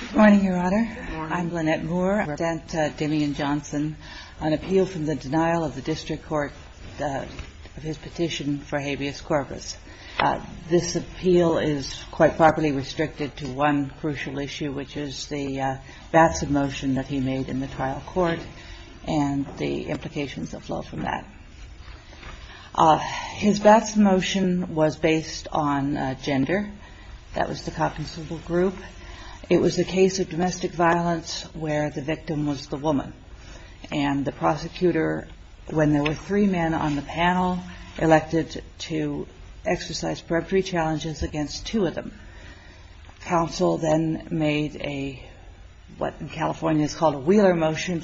Good morning, Your Honor. I'm Lynette Moore. I represent Demian Johnson on appeal for the denial of the district court of his petition for habeas corpus. This appeal is quite properly restricted to one crucial issue, which is the Batson motion that he made in the trial court and the implications that flow from that. His Batson motion was based on gender. That was the compensable group. It was a case of domestic violence where the victim was the woman. And the prosecutor, when there were three men on the panel, elected to exercise periphery challenges against two of them. Counsel then made a, what in California is called a Wheeler motion,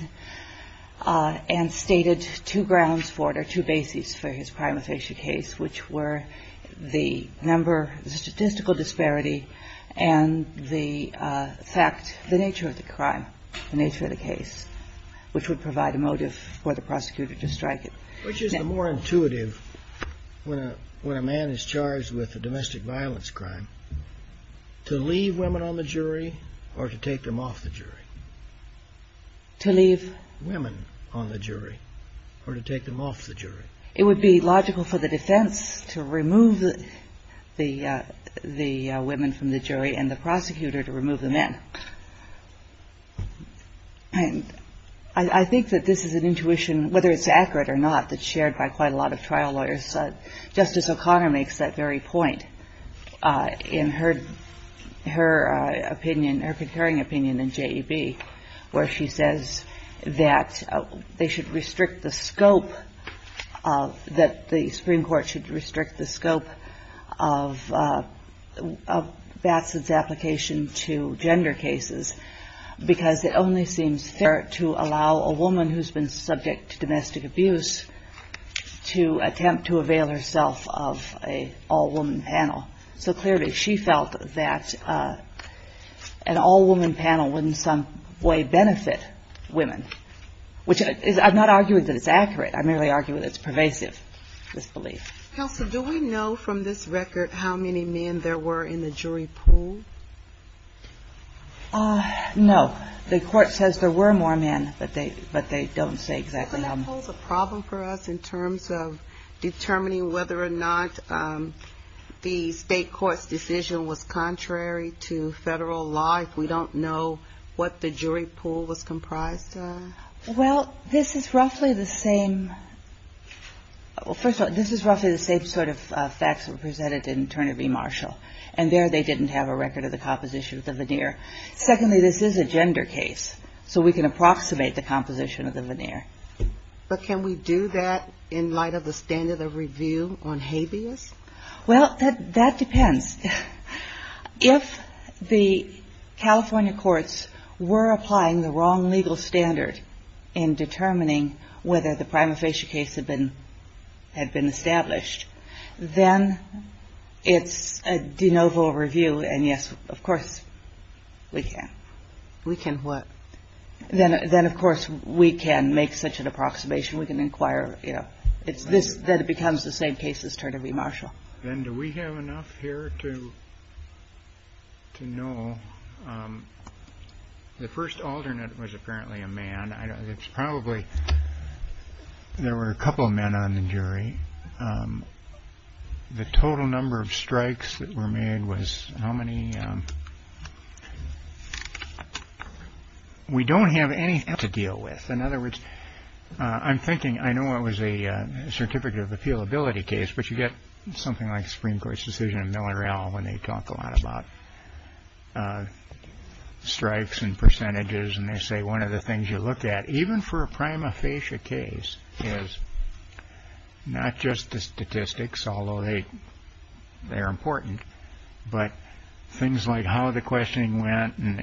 and stated two grounds for it or two bases for his crime of facial case, which were the number, the statistical disparity, and the fact, the nature of the crime, the nature of the case, which would provide a motive for the prosecutor to strike it. Which is the more intuitive when a man is charged with a domestic violence crime, to leave women on the jury or to take them off the jury? To leave women on the jury or to take them off the jury. It would be logical for the defense to remove the women from the jury and the prosecutor to remove the men. I think that this is an intuition, whether it's accurate or not, that's shared by quite a lot of trial lawyers. Justice O'Connor makes that very point in her opinion, her concurring opinion in JEB, where she says that they should restrict the scope, that the Supreme Court should restrict the scope of Batson's application to gender cases, because it only seems fair to allow a woman who's been subject to domestic abuse to attempt to avail herself of an all-woman panel. So clearly, she felt that an all-woman panel wouldn't in some way benefit women, which I'm not arguing that it's accurate. I merely argue that it's pervasive disbelief. Counsel, do we know from this record how many men there were in the jury pool? No. The Court says there were more men, but they don't say exactly how many. Is that a problem for us in terms of determining whether or not the state court's decision was contrary to Federal law if we don't know what the jury pool was comprised of? Well, this is roughly the same – well, first of all, this is roughly the same sort of facts that were presented in Turner v. Marshall, and there they didn't have a record of the composition of the veneer. Secondly, this is a gender case, so we can approximate the composition of the veneer. But can we do that in light of the standard of review on habeas? Well, that depends. If the California courts were applying the wrong legal standard in determining whether the prima facie case had been established, then it's a de novo review, and, yes, of course we can. We can what? Then, of course, we can make such an approximation. We can inquire, you know. It's this – then it becomes the same case as Turner v. Marshall. Then do we have enough here to know – the first alternate was apparently a man. It's probably – there were a couple of men on the jury. The total number of strikes that were made was how many? We don't have anything to deal with. In other words, I'm thinking – I know it was a certificate of appealability case, but you get something like Supreme Court's decision in Miller et al. when they talk a lot about strikes and percentages, and they say one of the things you look at even for a prima facie case is not just the statistics, although they are important, but things like how the questioning went and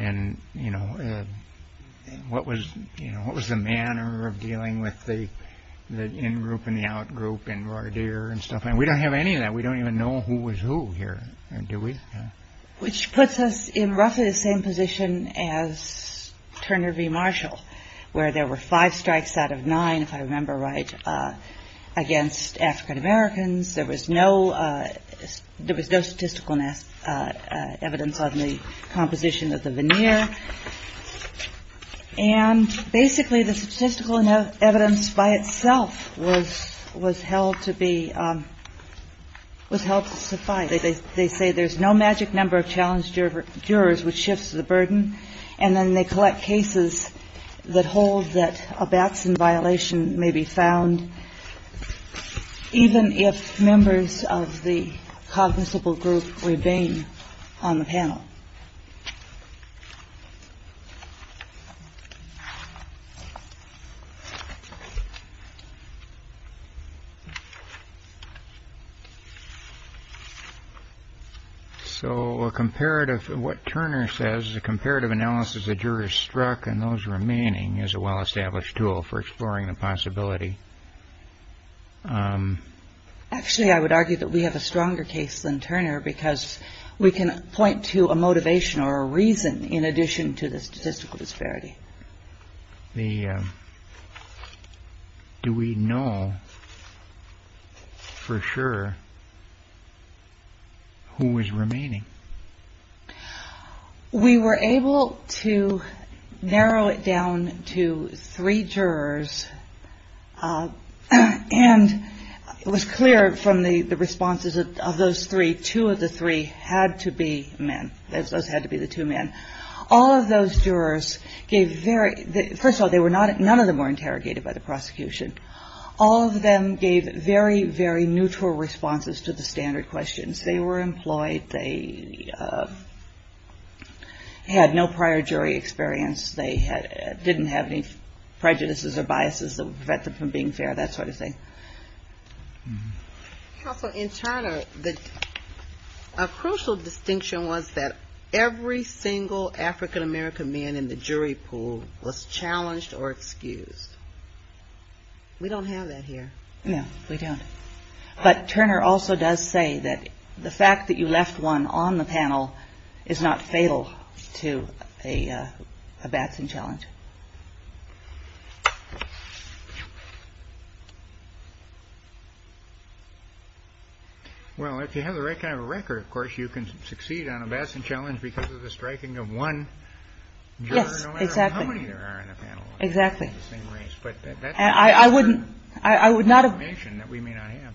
what was the manner of dealing with the in-group and the out-group and voir dire and stuff. We don't have any of that. We don't even know who was who here, do we? Which puts us in roughly the same position as Turner v. Marshall, where there were five strikes out of nine, if I remember right, against African-Americans. There was no – there was no statistical evidence on the composition of the veneer. And basically the statistical evidence by itself was held to be – was held to suffice. They say there's no magic number of challenged jurors, which shifts the burden. And then they collect cases that hold that a Batson violation may be found even if members of the cognizable group remain on the panel. So a comparative – what Turner says is a comparative analysis of jurors struck and those remaining is a well-established tool for exploring the possibility. Actually, I would argue that we have a stronger case than Turner because we can point to a motivation or a reason in addition to the statistical disparity. The – do we know for sure who was remaining? We were able to narrow it down to three jurors. And it was clear from the responses of those three, two of the three had to be men. Those had to be the two men. All of those jurors gave very – first of all, none of them were interrogated by the prosecution. All of them gave very, very neutral responses to the standard questions. They were employed. They had no prior jury experience. They didn't have any prejudices or biases that would prevent them from being fair, that sort of thing. Also, in Turner, a crucial distinction was that every single African-American man in the jury pool was challenged or excused. We don't have that here. No, we don't. But Turner also does say that the fact that you left one on the panel is not fatal to a Batson challenge. Well, if you have the right kind of a record, of course, you can succeed on a Batson challenge because of the striking of one juror, no matter how many there are in a panel. Yes, exactly. Exactly. But that's certain information that we may not have.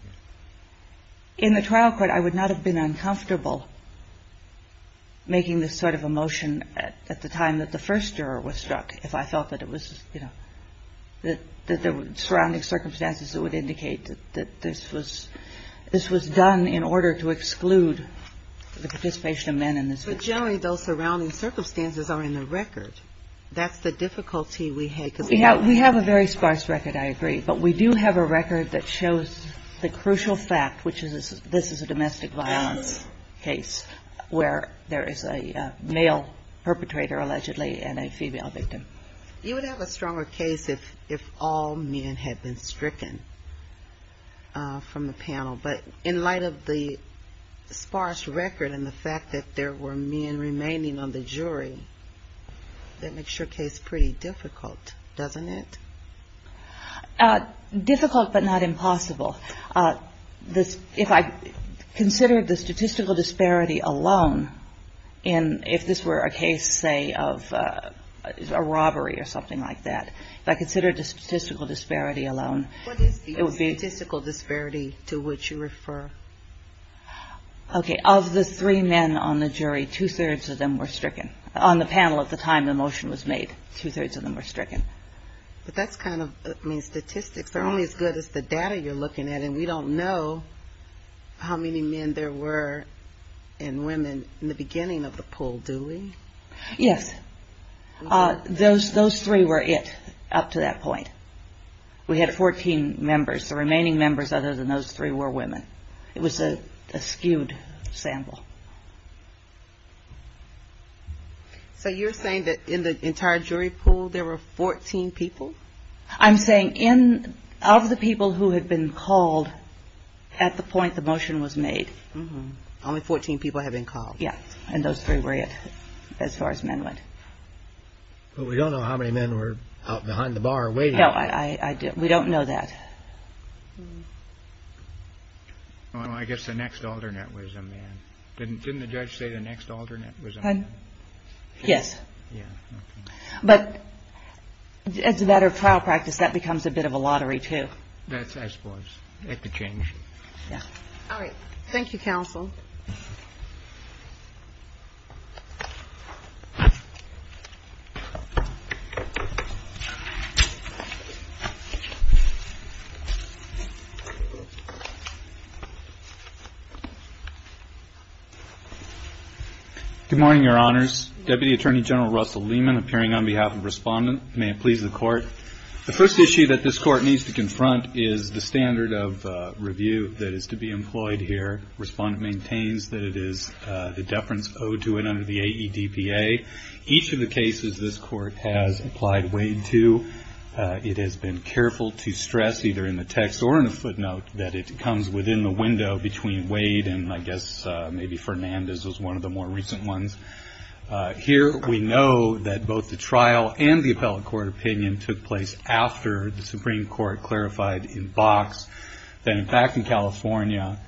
In the trial court, I would not have been uncomfortable making this sort of a motion at the time that the first juror was struck if I felt that it was, you know, that there were surrounding circumstances that would indicate that this was done in order to exclude the participation of men in this case. But generally, those surrounding circumstances are in the record. That's the difficulty we had. We have a very sparse record, I agree. But we do have a record that shows the crucial fact, which is this is a domestic violence case where there is a male perpetrator, allegedly, and a female victim. You would have a stronger case if all men had been stricken from the panel. But in light of the sparse record and the fact that there were men remaining on the jury, that makes your case pretty difficult, doesn't it? Difficult but not impossible. If I considered the statistical disparity alone, if this were a case, say, of a robbery or something like that, if I considered the statistical disparity alone, it would be — What is the statistical disparity to which you refer? Okay. Of the three men on the jury, two-thirds of them were stricken. On the panel at the time the motion was made, two-thirds of them were stricken. But that's kind of — I mean, statistics are only as good as the data you're looking at, and we don't know how many men there were and women in the beginning of the pool, do we? Yes. Those three were it up to that point. We had 14 members. The remaining members other than those three were women. It was a skewed sample. So you're saying that in the entire jury pool there were 14 people? I'm saying in — of the people who had been called at the point the motion was made. Only 14 people had been called. Yes. And those three were it as far as men went. But we don't know how many men were out behind the bar waiting. No, I don't. We don't know that. Well, I guess the next alternate was a man. Didn't the judge say the next alternate was a man? Yes. Yeah. Okay. But as a matter of trial practice, that becomes a bit of a lottery, too. I suppose. It could change. Yeah. All right. Thank you, counsel. Good morning, Your Honors. Deputy Attorney General Russell Lehman appearing on behalf of Respondent. May it please the Court. The first issue that this Court needs to confront is the standard of review that is to be employed here. Respondent maintains that it is the deference owed to it under the AEDPA. Each of the cases this Court has applied Wade to, it has been careful to stress either in the text or in a footnote that it comes within the window between Wade and I guess maybe Fernandez was one of the more recent ones. Here we know that both the trial and the appellate court opinion took place after the Supreme Court clarified in box that in fact in California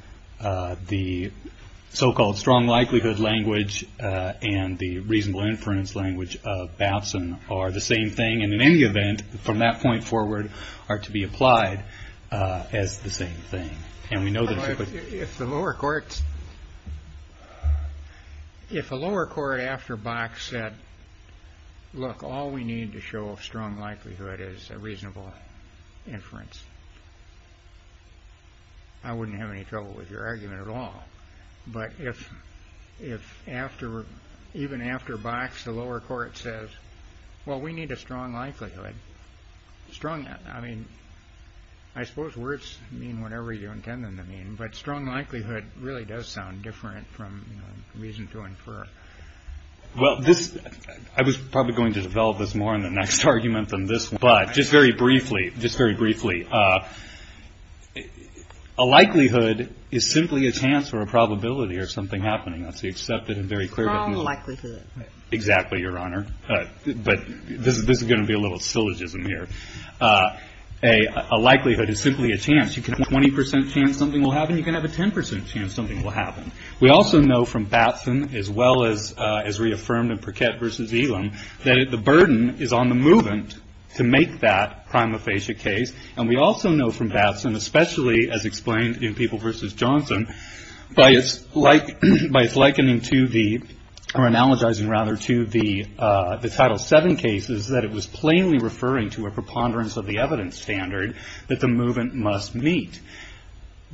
the so-called strong likelihood language and the reasonable inference language of Babson are the same thing and in any event from that point forward are to be applied as the same thing. If the lower courts, if a lower court after box said, look, all we need to show a strong likelihood is a reasonable inference, I wouldn't have any trouble with your argument at all. But if even after box the lower court says, well, we need a strong likelihood, strong, I mean, I suppose words mean whatever you intend them to mean, but strong likelihood really does sound different from reason to infer. Well, this I was probably going to develop this more in the next argument than this, but just very briefly, just very briefly. A likelihood is simply a chance or a probability or something happening. That's the accepted and very clear. Exactly, Your Honor. But this is going to be a little syllogism here. A likelihood is simply a chance. You can have a 20 percent chance something will happen. You can have a 10 percent chance something will happen. We also know from Babson as well as reaffirmed in Perquette v. Elam that the burden is on the movement to make that prima facie case. And we also know from Babson, especially as explained in People v. Johnson, by its likening to the or analogizing rather to the Title VII cases that it was plainly referring to a preponderance of the evidence standard that the movement must meet.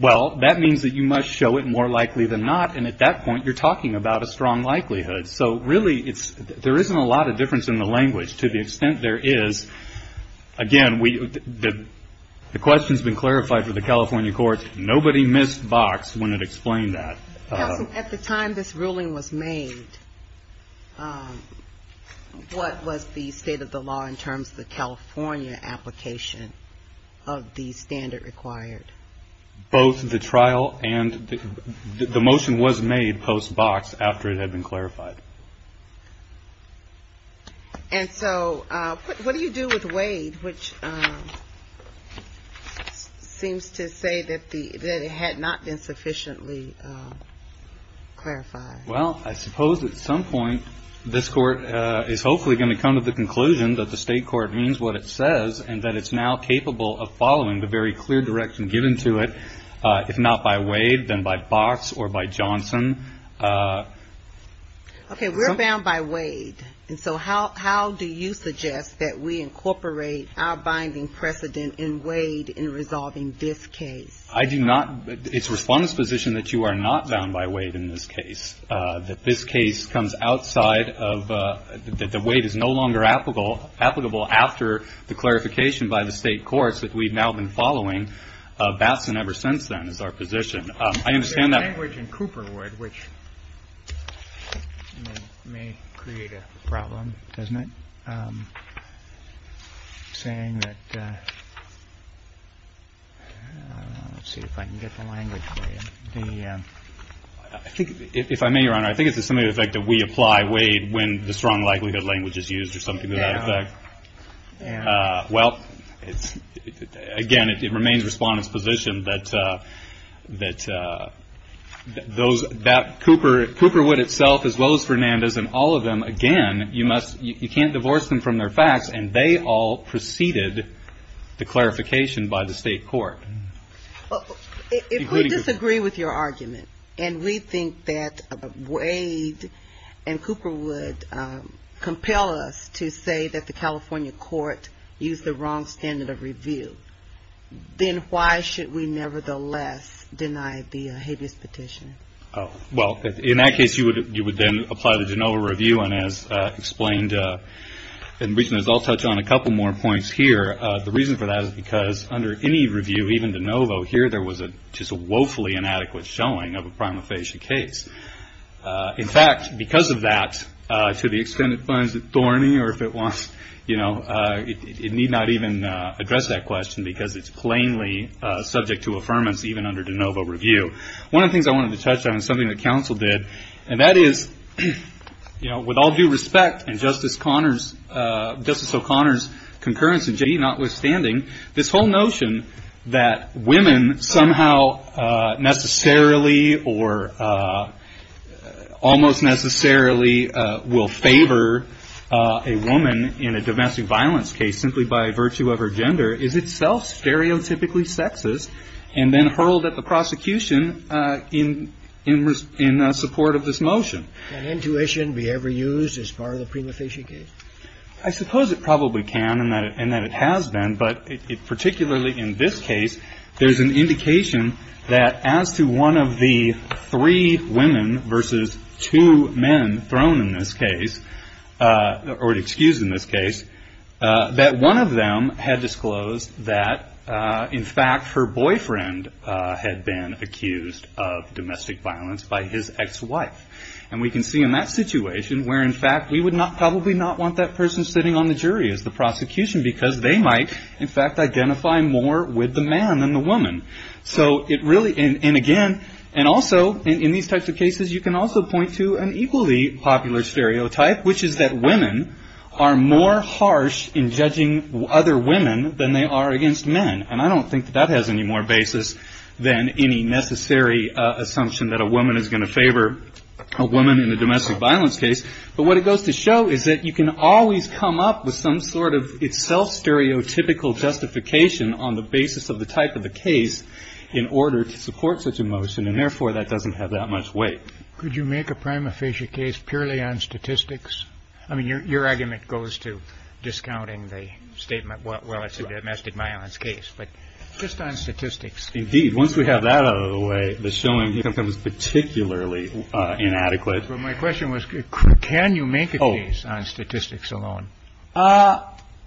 Well, that means that you must show it more likely than not, and at that point you're talking about a strong likelihood. So really there isn't a lot of difference in the language to the extent there is. Again, the question has been clarified for the California courts. Nobody missed boxed when it explained that. Counsel, at the time this ruling was made, what was the state of the law in terms of the California application of the standard required? Both the trial and the motion was made post box after it had been clarified. And so what do you do with Wade, which seems to say that it had not been sufficiently clarified? Well, I suppose at some point this court is hopefully going to come to the conclusion that the state court means what it says and that it's now capable of following the very clear direction given to it, if not by Wade, then by Box or by Johnson. Okay. We're bound by Wade. And so how do you suggest that we incorporate our binding precedent in Wade in resolving this case? I do not. It's the Respondent's position that you are not bound by Wade in this case, that this case comes outside of the way it is no longer applicable after the clarification by the state courts that we've now been following Batson ever since then is our position. I understand that language in Cooper would which may create a problem, doesn't it? Saying that. Let's see if I can get the language. The I think if I may, Your Honor, I think it's a similar effect that we apply Wade when the strong likelihood language is used or something to that effect. Well, again, it remains Respondent's position that Cooperwood itself, as well as Fernandez and all of them, again, you can't divorce them from their facts, and they all preceded the clarification by the state court. If we disagree with your argument, and we think that Wade and Cooperwood compel us to say that the California court used the wrong standard of review, then why should we nevertheless deny the habeas petition? Well, in that case, you would then apply the DeNovo review. And as explained in reason, as I'll touch on a couple more points here, the reason for that is because under any review, even DeNovo here, there was just a woefully inadequate showing of a prima facie case. In fact, because of that, to the extent it finds it thorny or if it wants, you know, it need not even address that question because it's plainly subject to affirmance even under DeNovo review. One of the things I wanted to touch on is something that counsel did, and that is, you know, with all due respect, and Justice O'Connor's concurrence in JD notwithstanding, this whole notion that women somehow necessarily or almost necessarily will favor a woman in a domestic violence case simply by virtue of her gender is itself stereotypically sexist and then hurled at the prosecution in support of this motion. Can intuition be ever used as part of the prima facie case? I suppose it probably can and that it has been. But particularly in this case, there's an indication that as to one of the three women versus two men thrown in this case or excused in this case, that one of them had disclosed that, in fact, her boyfriend had been accused of domestic violence by his ex-wife. And we can see in that situation where, in fact, we would probably not want that person sitting on the jury as the prosecution because they might, in fact, identify more with the man than the woman. So it really, and again, and also in these types of cases, you can also point to an equally popular stereotype, which is that women are more harsh in judging other women than they are against men. And I don't think that that has any more basis than any necessary assumption that a woman is going to favor a woman in a domestic violence case. But what it goes to show is that you can always come up with some sort of self-stereotypical justification on the basis of the type of the case in order to support such a motion. And therefore, that doesn't have that much weight. Could you make a prima facie case purely on statistics? I mean, your argument goes to discounting the statement, well, it's a domestic violence case. But just on statistics. Indeed, once we have that out of the way, the showing becomes particularly inadequate. But my question was, can you make a case on statistics alone?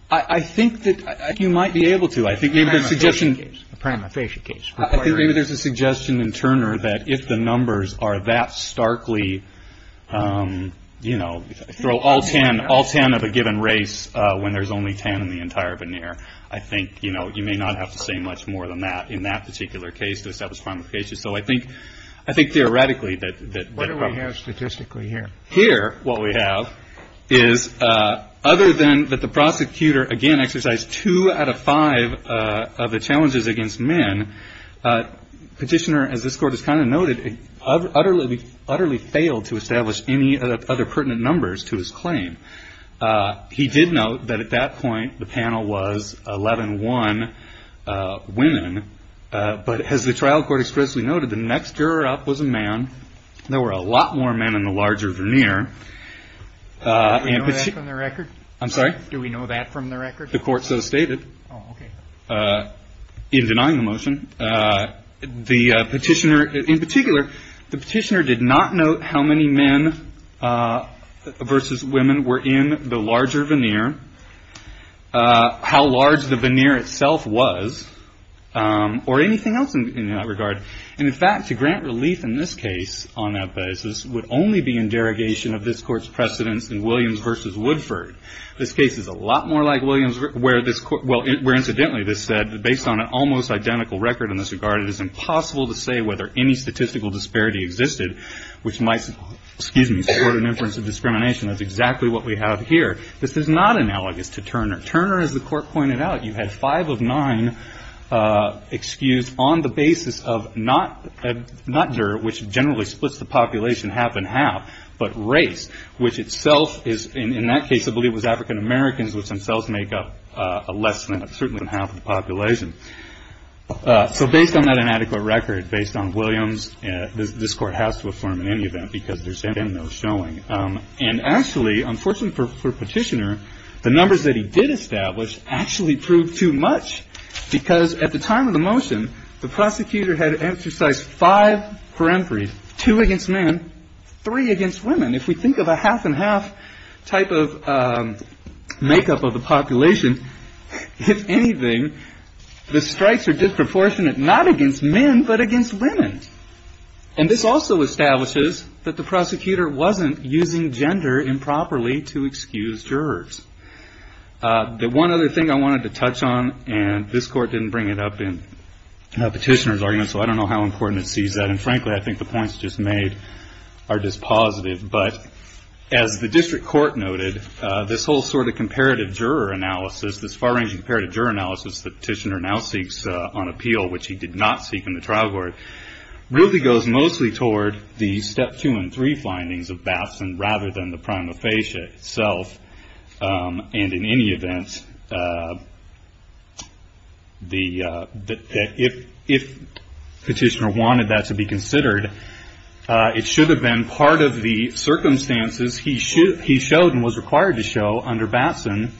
I think that you might be able to. I think maybe there's a suggestion, a prima facie case. I think maybe there's a suggestion in Turner that if the numbers are that starkly, you know, throw all 10, all 10 of a given race when there's only 10 in the entire veneer. I think, you know, you may not have to say much more than that in that particular case to establish prima facie. So I think, I think theoretically that. What do we have statistically here? Here, what we have is other than that the prosecutor, again, exercised two out of five of the challenges against men. Petitioner, as this Court has kind of noted, utterly, utterly failed to establish any other pertinent numbers to his claim. He did note that at that point the panel was 11-1 women. But as the trial court expressly noted, the next juror up was a man. There were a lot more men in the larger veneer. Do we know that from the record? I'm sorry? Do we know that from the record? The court so stated in denying the motion. The petitioner, in particular, the petitioner did not note how many men versus women were in the larger veneer, how large the veneer itself was, or anything else in that regard. And, in fact, to grant relief in this case on that basis would only be in derogation of this Court's precedence in Williams versus Woodford. This case is a lot more like Williams where, incidentally, this said, based on an almost identical record in this regard it is impossible to say whether any statistical disparity existed, which might, excuse me, support an inference of discrimination. That's exactly what we have here. This is not analogous to Turner. Turner, as the Court pointed out, you had five of nine excused on the basis of not juror, which generally splits the population half and half, but race, which itself is, in that case, I believe it was African-Americans, which themselves make up less than, certainly, than half of the population. So based on that inadequate record, based on Williams, this Court has to affirm in any event, because there's been no showing. And, actually, unfortunately for Petitioner, the numbers that he did establish actually proved too much, because at the time of the motion, the prosecutor had exercised five for entries, two against men, three against women. If we think of a half-and-half type of makeup of the population, if anything, the strikes are disproportionate not against men, but against women. And this also establishes that the prosecutor wasn't using gender improperly to excuse jurors. The one other thing I wanted to touch on, and this Court didn't bring it up in Petitioner's argument, so I don't know how important it sees that, and, frankly, I think the points just made are just positive, but as the District Court noted, this whole sort of comparative juror analysis, this far-ranging comparative juror analysis that Petitioner now seeks on appeal, which he did not seek in the trial court, really goes mostly toward the Step 2 and 3 findings of Batson, rather than the prima facie itself. And, in any event, if Petitioner wanted that to be considered, it should have been part of the circumstances he showed and was required to show under Batson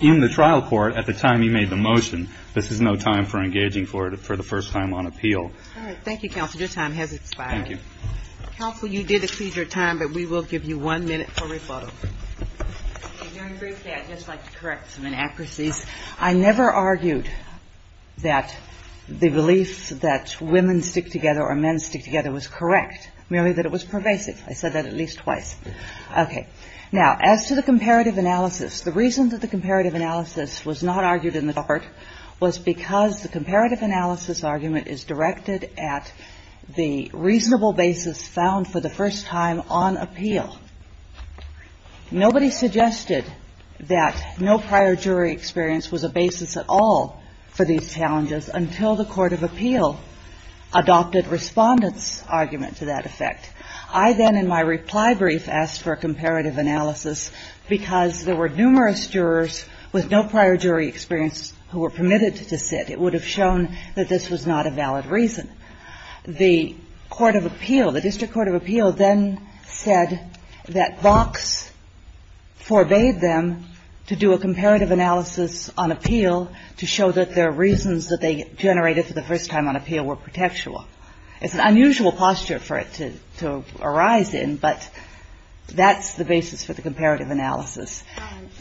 in the trial court at the time he made the motion. This is no time for engaging for the first time on appeal. All right. Thank you, counsel. Your time has expired. Thank you. Counsel, you did exceed your time, but we will give you one minute for rebuttal. And very briefly, I'd just like to correct some inaccuracies. I never argued that the belief that women stick together or men stick together was correct, merely that it was pervasive. I said that at least twice. Okay. Now, as to the comparative analysis, the reason that the comparative analysis was not argued in the trial court was because the comparative analysis argument is directed at the reasonable basis found for the first time on appeal. Nobody suggested that no prior jury experience was a basis at all for these challenges until the court of appeal adopted Respondent's argument to that effect. I then, in my reply brief, asked for a comparative analysis because there were numerous jurors with no prior jury experience who were permitted to sit. It would have shown that this was not a valid reason. The court of appeal, the district court of appeal, then said that Vox forbade them to do a comparative analysis on appeal to show that their reasons that they generated for the first time on appeal were protectual. It's an unusual posture for it to arise in, but that's the basis for the comparative analysis.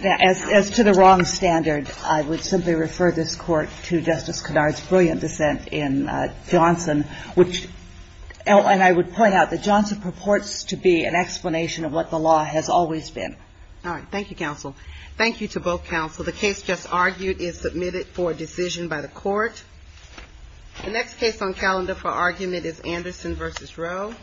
As to the wrong standard, I would simply refer this court to Justice Kennard's brilliant dissent in Johnson, which I would point out that Johnson purports to be an explanation of what the law has always been. All right. Thank you, counsel. Thank you to both counsel. The case just argued is submitted for decision by the court. The next case on calendar for argument is Anderson v. Roe.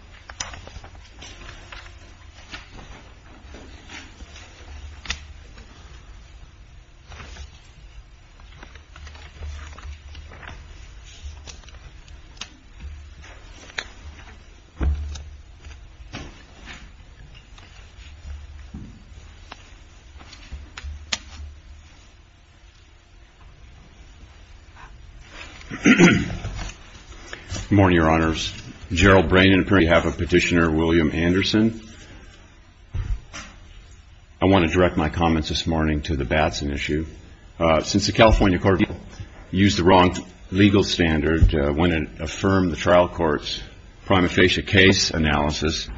Good morning, Your Honors. Gerald Brannan, on behalf of Petitioner William Anderson. I want to direct my comments this morning to the Batson issue. Since the California court of appeal used the wrong legal standard when it affirmed the trial court's prima facie case analysis,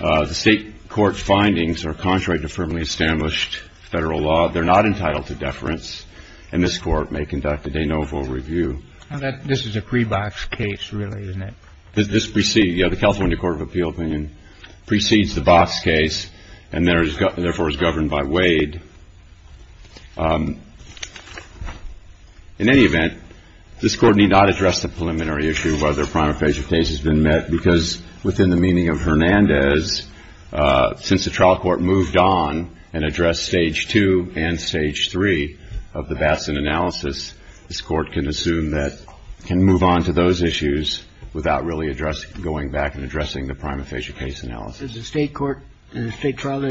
the state court findings are contrary to firmly established federal law. They're not entitled to deference, and this court may conduct a de novo review. This is a pre-box case, really, isn't it? This precedes, yeah, the California court of appeal opinion precedes the box case and therefore is governed by Wade. In any event, this court need not address the preliminary issue whether a prima facie case has been met, because within the meaning of Hernandez, since the trial court moved on and addressed stage two and stage three of the Batson analysis, this court can assume that it can move on to those issues without really going back and addressing the prima facie case analysis. Does the state court in the state trial issue agree with that?